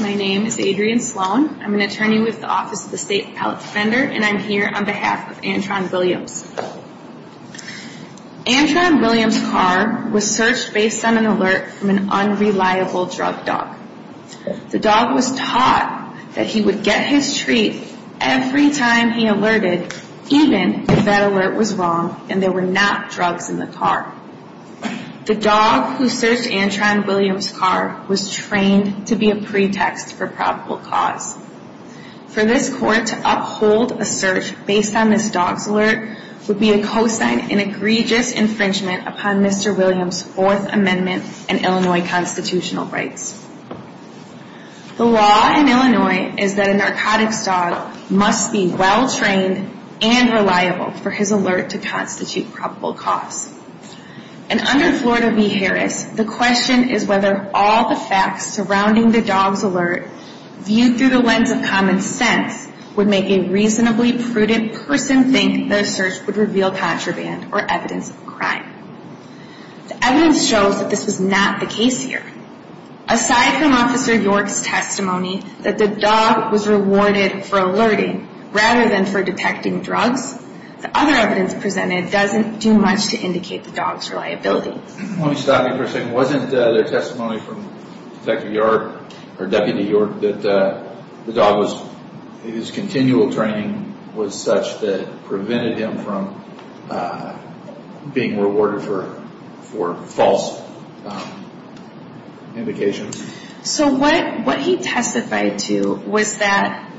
My name is Adrienne Sloan. I'm an attorney with the Office of the State Appellate Defender and I'm here on behalf of Antron Williams. Antron Williams' car was searched based on an alert from an unreliable drug dog. The dog was taught that he would get his treat every time he alerted even if that alert was wrong and there were not drugs in the car. The dog who searched Antron Williams' car was trained to be a pretext for probable cause. For this court to uphold a search based on this dog's alert would be a cosign in egregious infringement upon Mr. Williams' Fourth Amendment and Illinois constitutional rights. The law in Illinois is that a narcotics dog must be well trained and reliable for his alert to constitute probable cause. And under Florida v. Harris, the question is whether all the facts surrounding the dog's alert viewed through the lens of common sense would make a reasonably prudent person think their search would reveal contraband or evidence of a crime. The evidence shows that this was not the case here. Aside from Officer York's testimony that the dog was rewarded for alerting rather than for detecting drugs, the other evidence presented doesn't do much to indicate the dog's reliability. Let me stop you for a second. Wasn't there testimony from Detective York or Deputy York that the dog was, his continual training was such that prevented him from being rewarded for false indications? So what he testified to was that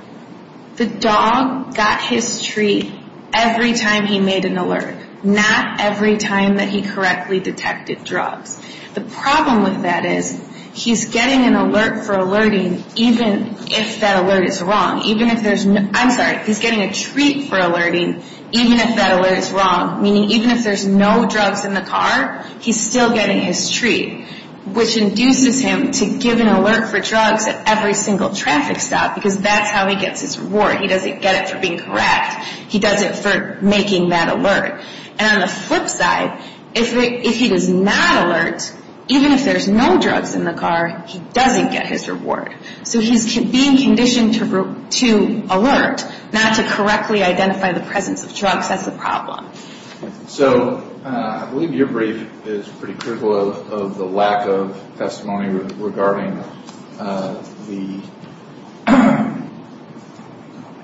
the dog got his treat every time he made an alert, not every time that he correctly detected drugs. The problem with that is, he's getting an alert for alerting even if that alert is wrong. Even if there's no, I'm sorry, he's getting a treat for alerting even if that alert is wrong, meaning even if there's no drugs in the car, he's still getting his treat, which induces him to give an alert for drugs at every single traffic stop because that's how he gets his reward. He doesn't get it for being correct. He does it for making that alert. And on the flip side, if he does not alert, even if there's no drugs in the car, he doesn't get his reward. So he's being conditioned to alert, not to correctly identify the presence of drugs. That's the problem. So I believe your brief is pretty critical of the lack of testimony regarding the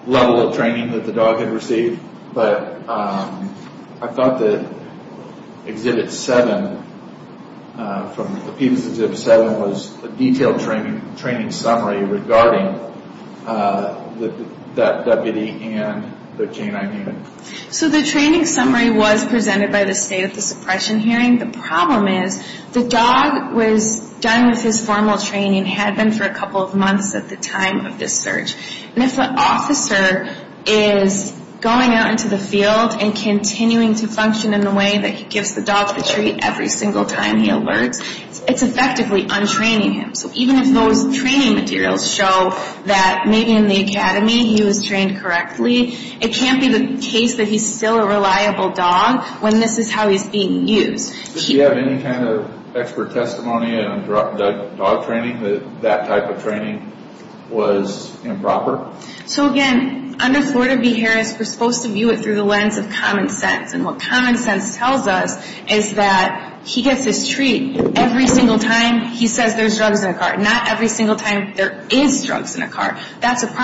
level of training that the dog had received, but I thought that Exhibit 7, from the PETA's Exhibit 7, was a detailed training summary regarding that deputy and the canine unit. So the training summary was presented by the state at the suppression hearing. The problem is the dog was done with his formal training, had been for a couple of months at the time of this search. And if the officer is going out into the field and continuing to function in the way that he gives the dog the treat every single time he alerts, it's effectively untraining him. So even if those training materials show that maybe in the case that he's still a reliable dog, when this is how he's being used. Does he have any kind of expert testimony on dog training, that that type of training was improper? So again, under Florida v. Harris, we're supposed to view it through the lens of common sense. And what common sense tells us is that he gets his treat every single time he says there's drugs in the car. Not every single time there is drugs in the car. That's a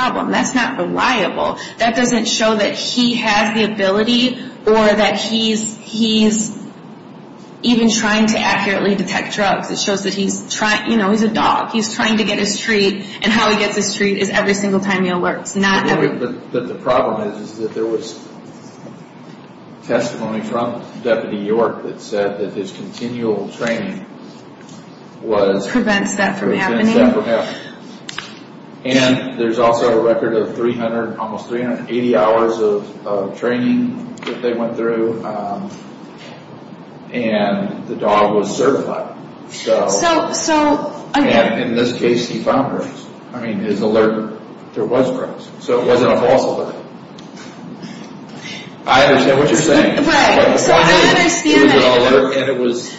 or that he's even trying to accurately detect drugs. It shows that he's trying, you know, he's a dog. He's trying to get his treat. And how he gets his treat is every single time he alerts. Not every... But the problem is that there was testimony from Deputy York that said that his continual training was... Prevents that from happening. And there's also a record of almost 380 hours of training that they went through. And the dog was certified. So... And in this case he found drugs. I mean, his alert, there was drugs. So it wasn't a false alert. I understand what you're saying. Right. So I understand that. It was an alert and it was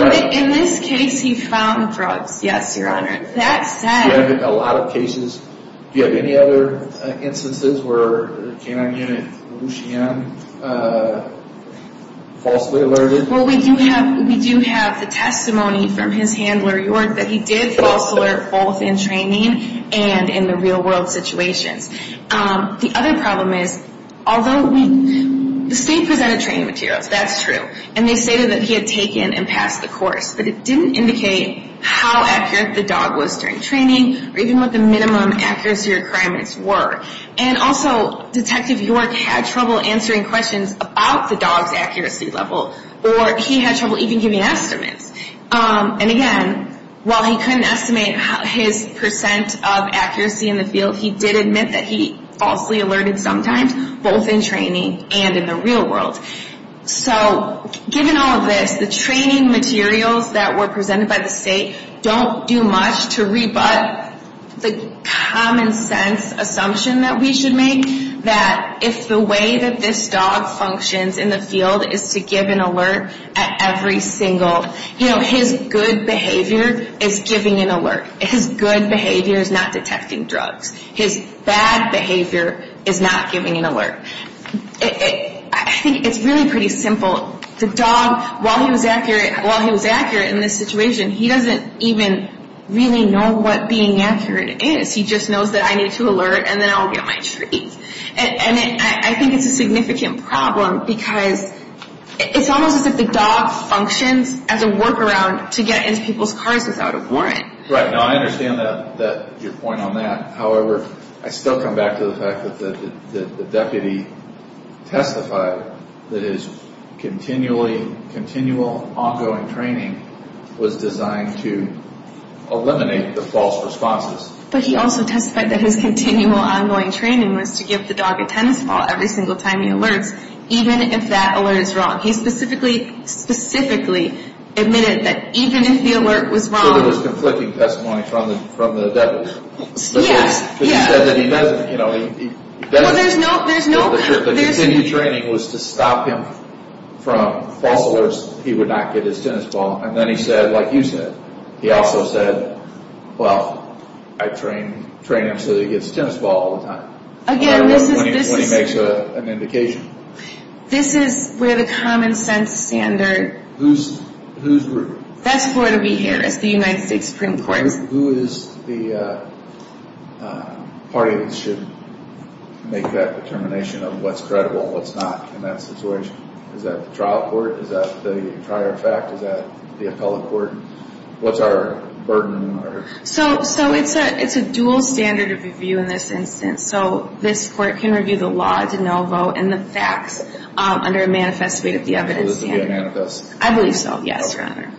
drugs. In this case he found drugs. Yes, Your Honor. That said... You have a lot of cases. Do you have any other instances where a K-9 unit Lucien falsely alerted? Well, we do have the testimony from his handler, York, that he did false alert both in training and in the real world situations. The other problem is, although we... The state presented training materials. That's true. And they stated that he had taken and passed the course. But it didn't indicate how accurate the dog was during training or even what the minimum accuracy requirements were. And also, Detective York had trouble answering questions about the dog's accuracy level. Or he had trouble even giving estimates. And again, while he couldn't estimate his percent of accuracy in the field, he did admit that he falsely alerted sometimes, both in training and in the real world. So, given all of this, the training materials that were presented by the state don't do much to rebut the common sense assumption that we should make that if the way that this dog functions in the field is to give an alert at every single... You know, his good behavior is giving an alert. His good behavior is not detecting drugs. His bad behavior is not giving an alert. I think it's really pretty simple. The dog, while he was accurate in this situation, he doesn't even really know what being accurate is. He just knows that I need to alert and then I'll get my treat. And I think it's a significant problem because it's almost as if the dog functions as a work ground to get into people's cars without a warrant. Right. Now, I understand your point on that. However, I still come back to the fact that the deputy testified that his continual ongoing training was designed to eliminate the false responses. But he also testified that his continual ongoing training was to give the dog a tennis ball every single time he alerts, even if that alert is wrong. He specifically admitted that even if the alert was wrong... So there was conflicting testimony from the deputy. Yes. But he said that he doesn't... Well, there's no... The continued training was to stop him from false alerts. He would not get his tennis ball. And then he said, like you said, he also said, well, I train him so that he gets tennis ball all the time. Again, this is... When he makes an indication. This is where the common sense standard... Whose group? That's Gloria B. Harris, the United States Supreme Court. Who is the party that should make that determination of what's credible and what's not in that situation? Is that the trial court? Is that the entire fact? Is that the appellate court? What's our burden? So it's a dual standard of review in this instance. So this court can review the law to no vote and the facts under a manifest way that the evidence... So this would be a manifest? I believe so. Yes, Your Honor.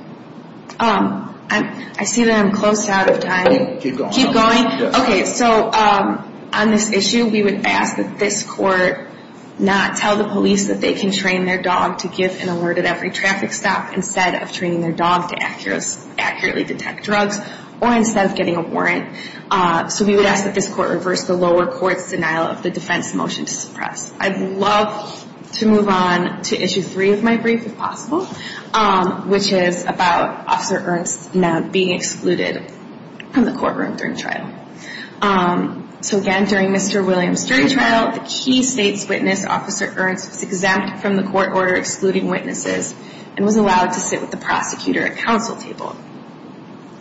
I see that I'm close out of time. Keep going. Keep going? Okay. So on this issue, we would ask that this court not tell the police that they can train their dog to give an alert at every traffic stop instead of training their dog to accurately detect drugs or instead of getting a warrant. So we would ask that this court reverse the lower court's denial of the defense motion to suppress. I'd love to move on to issue three of my brief if possible, which is about Officer Ernst not being excluded from the courtroom during trial. So again, during Mr. Williams' jury trial, the key state's witness, Officer Ernst, was denied from the court order excluding witnesses and was allowed to sit with the prosecutor at counsel table.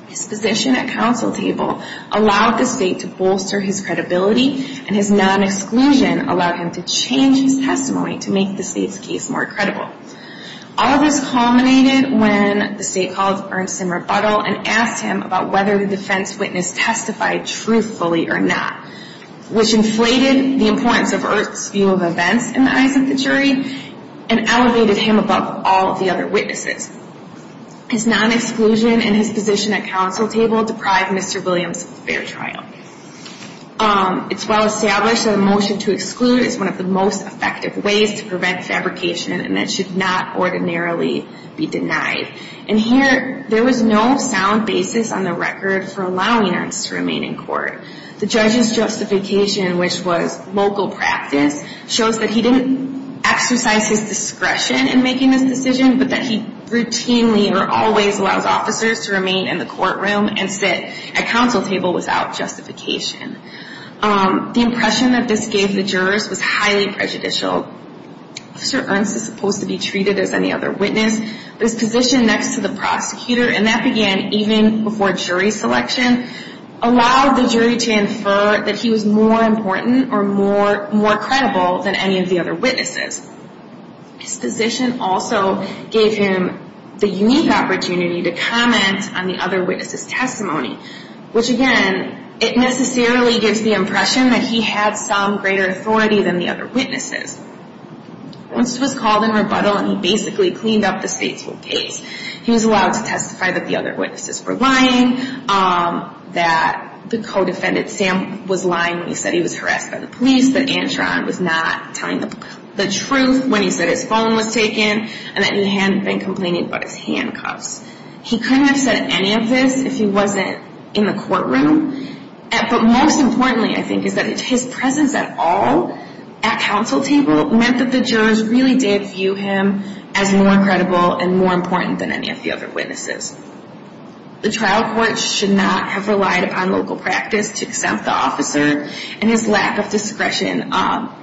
His position at counsel table allowed the state to bolster his credibility and his non-exclusion allowed him to change his testimony to make the state's case more credible. All of this culminated when the state called Ernst in rebuttal and asked him about whether the defense witness testified truthfully or not, which inflated the importance of Ernst's view of events in the eyes of the jury and elevated him above all of the other witnesses. His non-exclusion and his position at counsel table deprived Mr. Williams of the fair trial. It's well established that a motion to exclude is one of the most effective ways to prevent fabrication and that should not ordinarily be denied. And here, there was no sound basis on the record for allowing Ernst to remain in court. The judge's justification, which was local practice, shows that he didn't exercise his discretion in making this decision, but that he routinely or always allows officers to remain in the courtroom and sit at counsel table without justification. The impression that this gave the jurors was highly prejudicial. Officer Ernst is supposed to be treated as any other witness, but his position next to the prosecutor, and that began even before jury selection, allowed the jury to infer that he was more important or more credible than any of the other witnesses. His position also gave him the unique opportunity to comment on the other witnesses' testimony, which again, it necessarily gives the impression that he had some greater authority than the other witnesses. Ernst was called in rebuttal and he basically cleaned up the state's case. He was allowed to testify that the other witnesses were lying, that the co-defendant, Sam, was lying when he said he was harassed by the police, that Antron was not telling the truth when he said his phone was taken, and that he hadn't been complaining about his handcuffs. He couldn't have said any of this if he wasn't in the courtroom. But most importantly, I think, is that his presence at all at counsel table meant that the jurors really did view him as more credible and more important than any of the other witnesses. The trial court should not have relied upon local practice to accept the officer, and his lack of discretion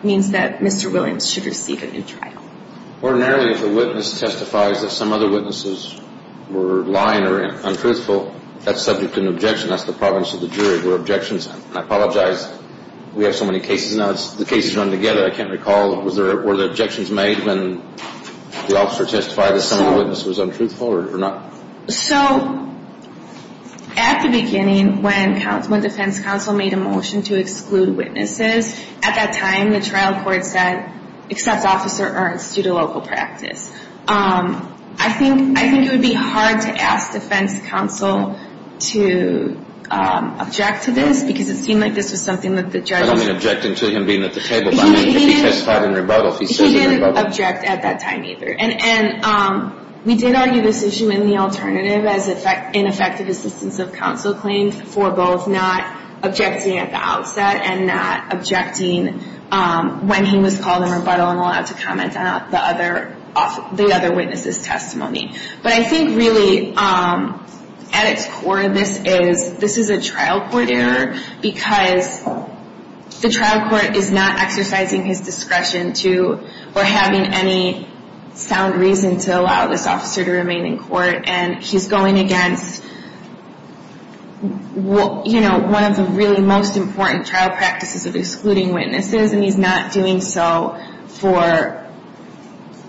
means that Mr. Williams should receive him in trial. Ordinarily, if a witness testifies that some other witnesses were lying or untruthful, that's subject to an objection. That's the province of the jury where objections end. I apologize we have so many cases now. The cases run together. I can't recall. Were there objections made when the officer testified that some of the witness was untruthful or not? So at the beginning, when defense counsel made a motion to exclude witnesses, at that time the trial court said, accept officer Ernst due to local practice. I think it would be hard to ask defense counsel to object to this because it seemed like this was something that the judge I don't mean objecting to him being at the table, but I mean if he testified in rebuttal, if he says in rebuttal. He didn't object at that time either. And we did argue this issue in the alternative as ineffective assistance of counsel claims for both not objecting at the outset and not objecting when he was called in rebuttal and allowed to comment on the other witness's testimony. But I think really at its core this is a trial court error because the trial court is not exercising his discretion or having any sound reason to allow this officer to remain in court. And he's going against one of the really most important trial practices of excluding witnesses and he's not doing so for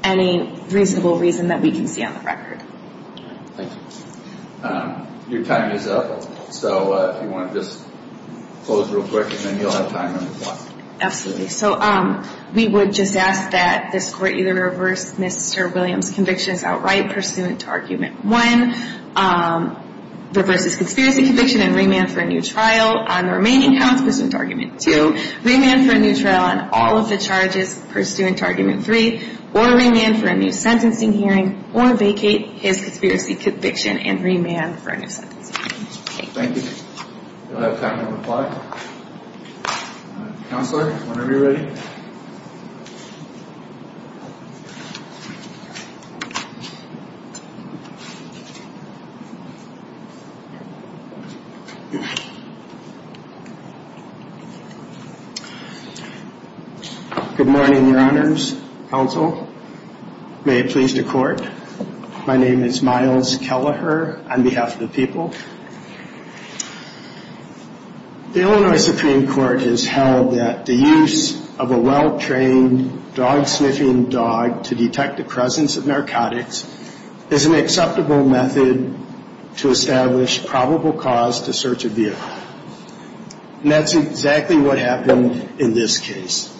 any reasonable reason that we can see on the record. Thank you. Your time is up. So if you want to just close real quick and then you'll have time on the clock. Absolutely. So we would just ask that this court either reverse Mr. Williams' conviction as outright pursuant to argument one, reverse his conspiracy conviction and remand for a new trial on the remaining counts pursuant to argument two, remand for a new trial on all of the charges pursuant to argument three, or remand for a new sentencing hearing or vacate his conspiracy conviction and remand for a new sentencing hearing. Thank you. You'll have time on the clock. Counselor, whenever you're ready. Good morning, Your Honors. Counsel, may it please the court. My name is Miles Kelleher on behalf of the people. The Illinois Supreme Court has held that the use of a well-trained dog sniffing dog to detect the presence of narcotics is an acceptable method to establish probable cause to search a vehicle. And that's exactly what happened in this case.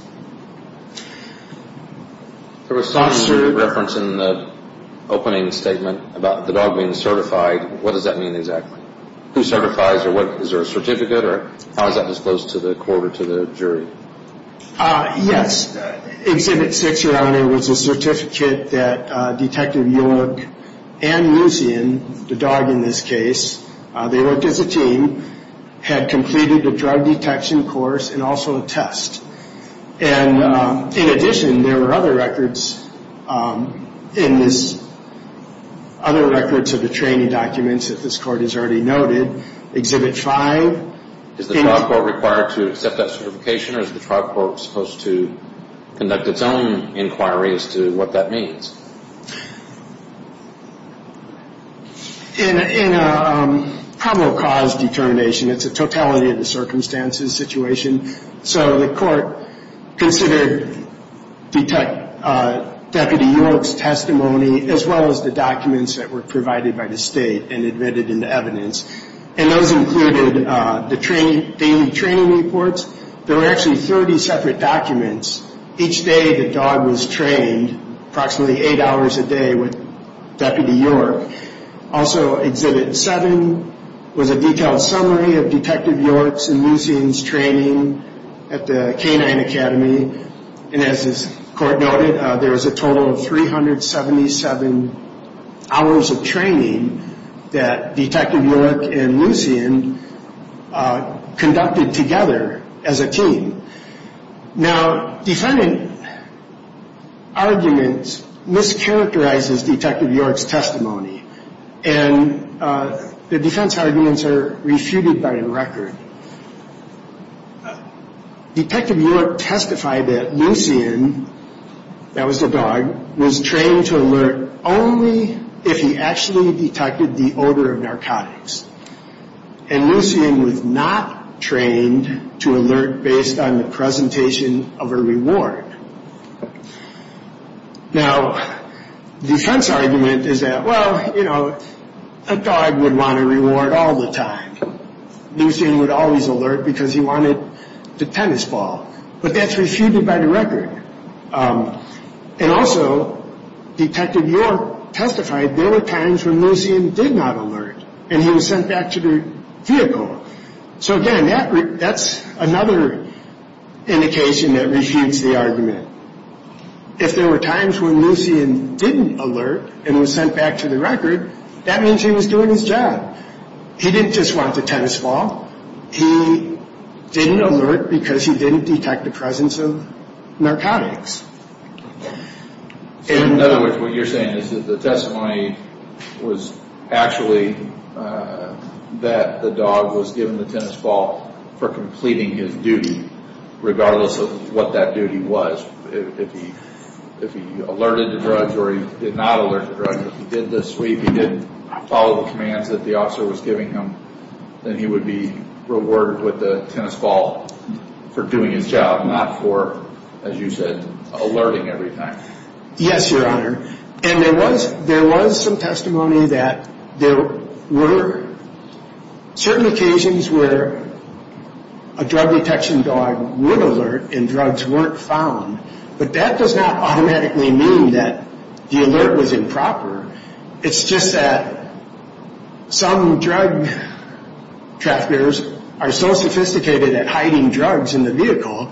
There was some sort of reference in the opening statement about the dog being certified. What does that mean exactly? Who certifies or what? Is there a certificate or how is that disclosed to the court or to the jury? Yes. Exhibit 6, Your Honor, was a certificate that Detective York and Musian, the dog in this case, they worked as a team, had completed a drug detection course and also a test. And in addition, there were other records in this, other records of the training documents that this court has already noted. Exhibit 5. Is the trial court required to accept that certification or is the trial court supposed to conduct its own inquiry as to what that means? In a probable cause determination, it's a totality of the circumstances situation. So the court considered Deputy York's testimony as well as the documents that were provided by the state and admitted in the evidence. And those included the daily training reports. There were actually 30 separate documents. Each day the dog was trained approximately eight hours a day with Deputy York. Also, Exhibit 7 was a detailed summary of Detective York's and Musian's training at the Canine Academy. And as this court noted, there was a total of 377 hours of training that Detective York and Musian conducted together as a team. Now, defendant arguments mischaracterizes Detective York's testimony. And the defense arguments are refuted by the record. Detective York testified that Musian, that was the dog, was trained to alert only if he actually detected the odor of narcotics. And Musian was not trained to alert based on the presentation of a reward. Now, defense argument is that, well, you know, a dog would want a reward all the time. Musian would always alert because he wanted the tennis ball. But that's refuted by the record. And also, Detective York testified there were times when Musian did not alert and he was sent back to the vehicle. So, again, that's another indication that refutes the argument. If there were times when Musian didn't alert and was sent back to the record, that means he was doing his job. He didn't just want the tennis ball. He didn't alert because he didn't detect the presence of narcotics. In other words, what you're saying is that the testimony was actually that the dog was given the tennis ball for completing his duty, regardless of what that duty was. If he alerted to drugs or he did not alert to drugs, if he did the sweep, he did follow the commands that the officer was giving him, then he would be rewarded with the tennis ball for doing his job, not for, as you said, alerting every time. Yes, Your Honor. And there was some testimony that there were certain occasions where a drug detection dog would alert and drugs weren't found. But that does not automatically mean that the alert was improper. It's just that some drug traffickers are so sophisticated at hiding drugs in the vehicle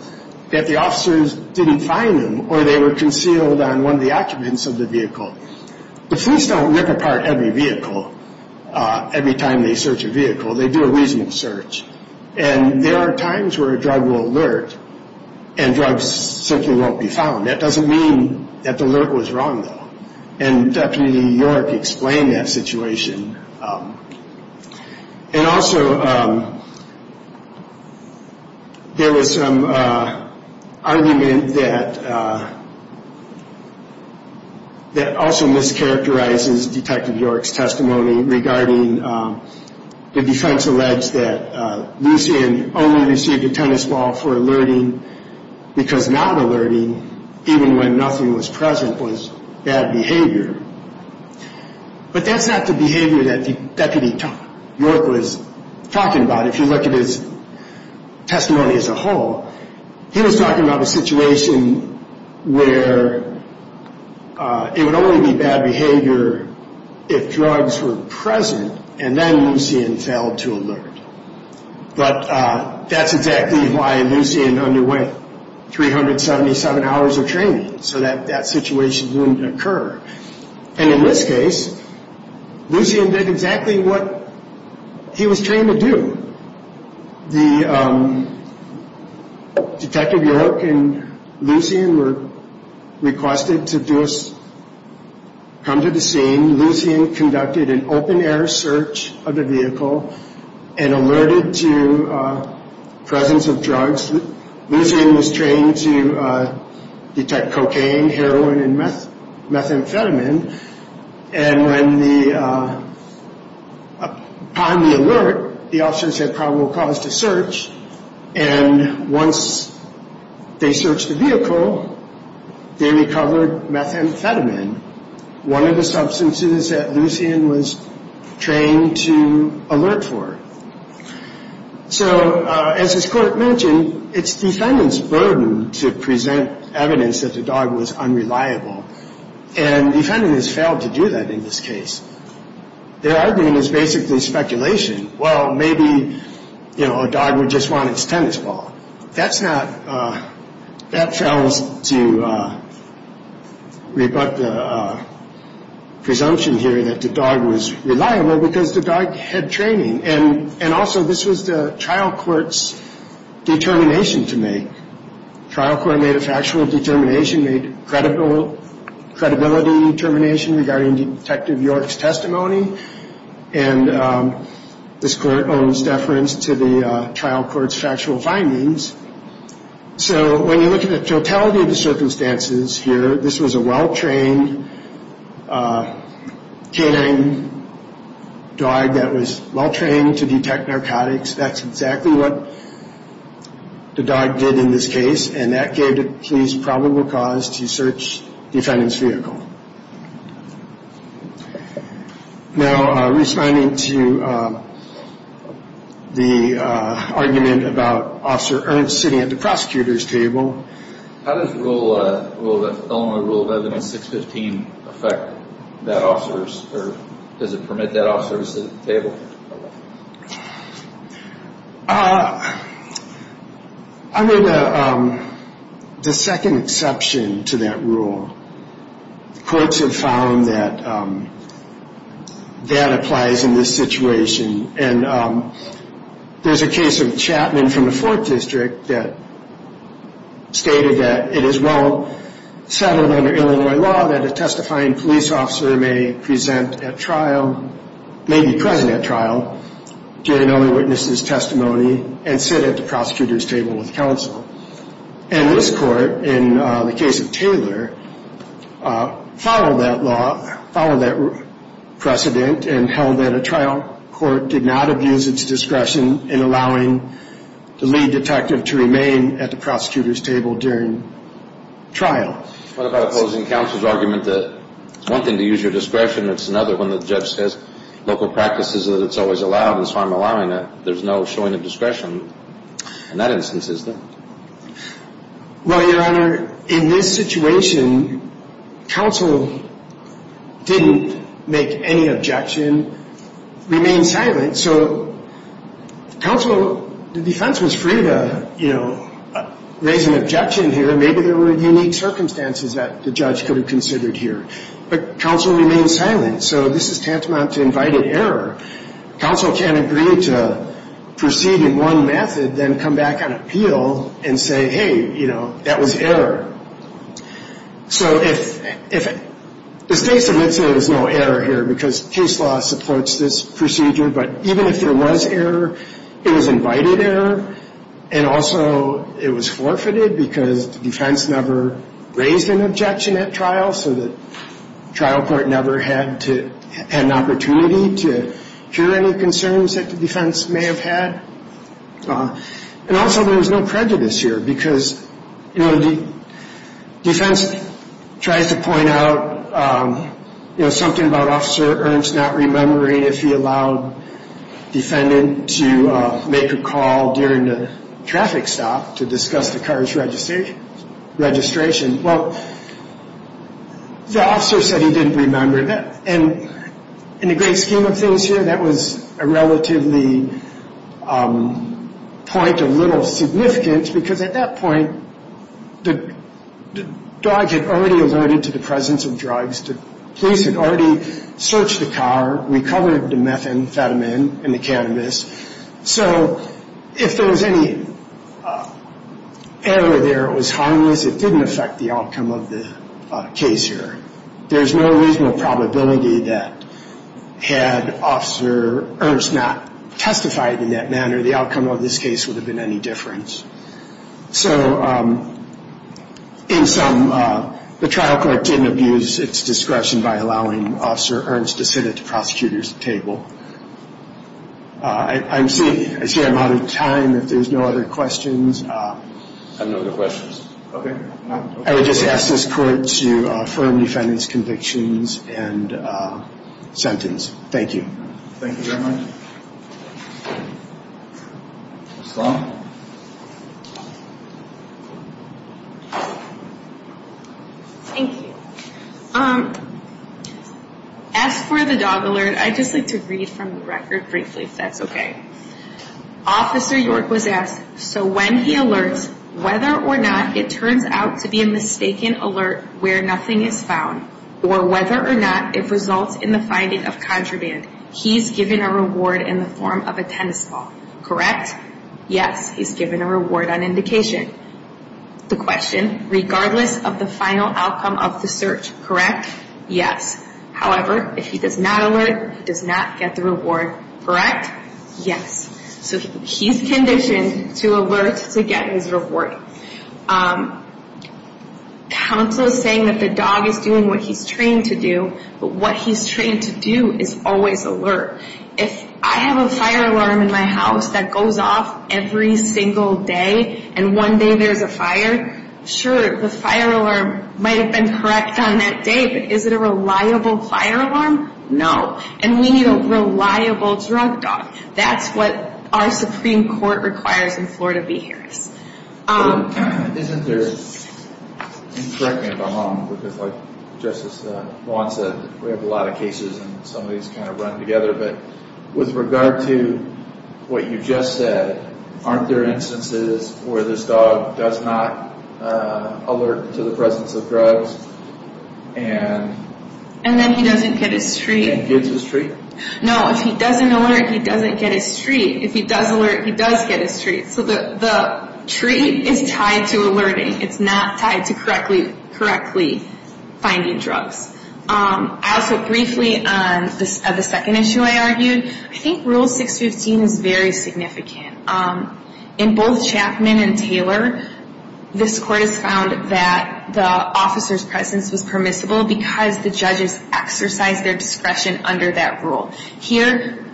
that the officers didn't find them or they were concealed on one of the occupants of the vehicle. The police don't rip apart every vehicle every time they search a vehicle. They do a reasonable search. And there are times where a drug will alert and drugs simply won't be found. That doesn't mean that the alert was wrong, though. And Deputy York explained that situation. And also, there was some argument that also mischaracterizes Detective York's testimony regarding the defense alleged that Lucien only received a tennis ball for alerting because not alerting, even when nothing was present, was bad behavior. But that's not the behavior that Deputy York was talking about. If you look at his testimony as a whole, he was talking about a situation where it would only be bad behavior if drugs were present and then Lucien failed to alert. But that's exactly why Lucien underwent 377 hours of training so that that situation wouldn't occur. And in this case, Lucien did exactly what he was trained to do. Detective York and Lucien were requested to come to the scene. Lucien conducted an open-air search of the vehicle and alerted to the presence of drugs. Lucien was trained to detect cocaine, heroin, and methamphetamine. And upon the alert, the officers had probable cause to search. And once they searched the vehicle, they recovered methamphetamine, one of the substances that Lucien was trained to alert for. So as this court mentioned, it's defendant's burden to present evidence that the dog was unreliable. And the defendant has failed to do that in this case. Their argument is basically speculation. Well, maybe, you know, a dog would just want its tennis ball. That's not – that fails to rebut the presumption here that the dog was reliable because the dog had training. And also, this was the trial court's determination to make. Trial court made a factual determination, made credibility determination regarding Detective York's testimony. And this court owes deference to the trial court's factual findings. So when you look at the totality of the circumstances here, this was a well-trained canine dog that was well-trained to detect narcotics. That's exactly what the dog did in this case. And that gave the police probable cause to search the defendant's vehicle. Now, responding to the argument about Officer Ernst sitting at the prosecutor's table. How does rule – well, the Illinois Rule of Evidence 615 affect that officer's – or does it permit that officer to sit at the table? I mean, the second exception to that rule, courts have found that that applies in this situation. And there's a case of Chapman from the Fourth District that stated that it is well settled under Illinois law that a testifying police officer may present at trial – may be present at trial during an eyewitness's testimony and sit at the prosecutor's table with counsel. And this court, in the case of Taylor, followed that law, followed that precedent, and held that a trial court did not abuse its discretion in allowing the lead detective to remain at the prosecutor's table during trial. What about opposing counsel's argument that it's one thing to use your discretion, it's another when the judge says local practice is that it's always allowed and so I'm allowing it. There's no showing of discretion in that instance, is there? Well, Your Honor, in this situation, counsel didn't make any objection, remained silent. So counsel – the defense was free to, you know, raise an objection here. Maybe there were unique circumstances that the judge could have considered here. But counsel remained silent. So this is tantamount to invited error. Counsel can't agree to proceed in one method, then come back on appeal and say, hey, you know, that was error. So if – the state submits it, there's no error here because case law supports this procedure. But even if there was error, it was invited error and also it was forfeited because the defense never raised an objection at trial so the trial court never had to – had an opportunity to hear any concerns that the defense may have had. And also there was no prejudice here because, you know, the defense tries to point out, you know, something about Officer Ernst not remembering if he allowed defendant to make a call during the traffic stop to discuss the car's registration. Well, the officer said he didn't remember. And in the great scheme of things here, that was a relatively point of little significance because at that point the dog had already alerted to the presence of drugs. The police had already searched the car, recovered the methamphetamine and the cannabis. So if there was any error there, it was harmless, it didn't affect the outcome of the case here. There's no reasonable probability that had Officer Ernst not testified in that manner, the outcome of this case would have been any difference. So in sum, the trial court didn't abuse its discretion by allowing Officer Ernst to sit at the prosecutor's table. I see I'm out of time. If there's no other questions. I have no other questions. Okay. I would just ask this court to affirm defendant's convictions and sentence. Thank you. Thank you very much. Ms. Long. Thank you. As for the dog alert, I'd just like to read from the record briefly if that's okay. Officer York was asked, so when he alerts whether or not it turns out to be a mistaken alert where nothing is found or whether or not it results in the finding of contraband, he's given a reward in the form of a tennis ball, correct? Yes, he's given a reward on indication. The question, regardless of the final outcome of the search, correct? Yes. However, if he does not alert, he does not get the reward, correct? Yes. So he's conditioned to alert to get his reward. Counsel is saying that the dog is doing what he's trained to do, but what he's trained to do is always alert. If I have a fire alarm in my house that goes off every single day and one day there's a fire, sure, the fire alarm might have been correct on that day, but is it a reliable fire alarm? No. And we need a reliable drug dog. That's what our Supreme Court requires in Florida v. Harris. Isn't there, and correct me if I'm wrong, because like Justice Wong said, we have a lot of cases and some of these kind of run together, but with regard to what you just said, aren't there instances where this dog does not alert to the presence of drugs and... And then he doesn't get his treat. And gets his treat. No, if he doesn't alert, he doesn't get his treat. If he does alert, he does get his treat. So the treat is tied to alerting. It's not tied to correctly finding drugs. I also briefly, on the second issue I argued, I think Rule 615 is very significant. In both Chapman and Taylor, this Court has found that the officer's presence was permissible because the judges exercised their discretion under that rule. Here,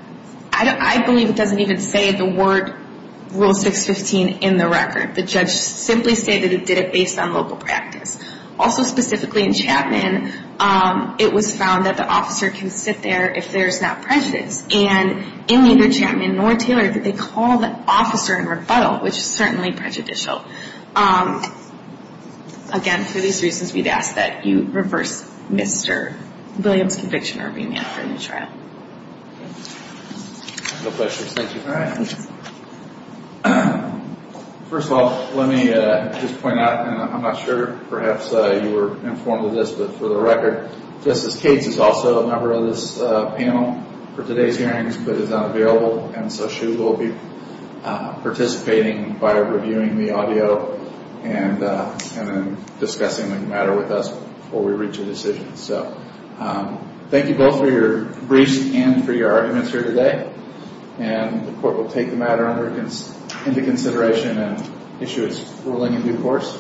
I believe it doesn't even say the word Rule 615 in the record. The judge simply stated it did it based on local practice. Also specifically in Chapman, it was found that the officer can sit there if there's not prejudice. And in neither Chapman nor Taylor did they call the officer in rebuttal, which is certainly prejudicial. Again, for these reasons, we'd ask that you reverse Mr. Williams' conviction or remand for a new trial. No questions. Thank you. First of all, let me just point out, and I'm not sure perhaps you were informed of this, but for the record, Justice Cates is also a member of this panel for today's hearings, but is not available. And so she will be participating by reviewing the audio and discussing the matter with us before we reach a decision. So thank you both for your briefs and for your arguments here today. And the Court will take the matter into consideration and issue its ruling in due course.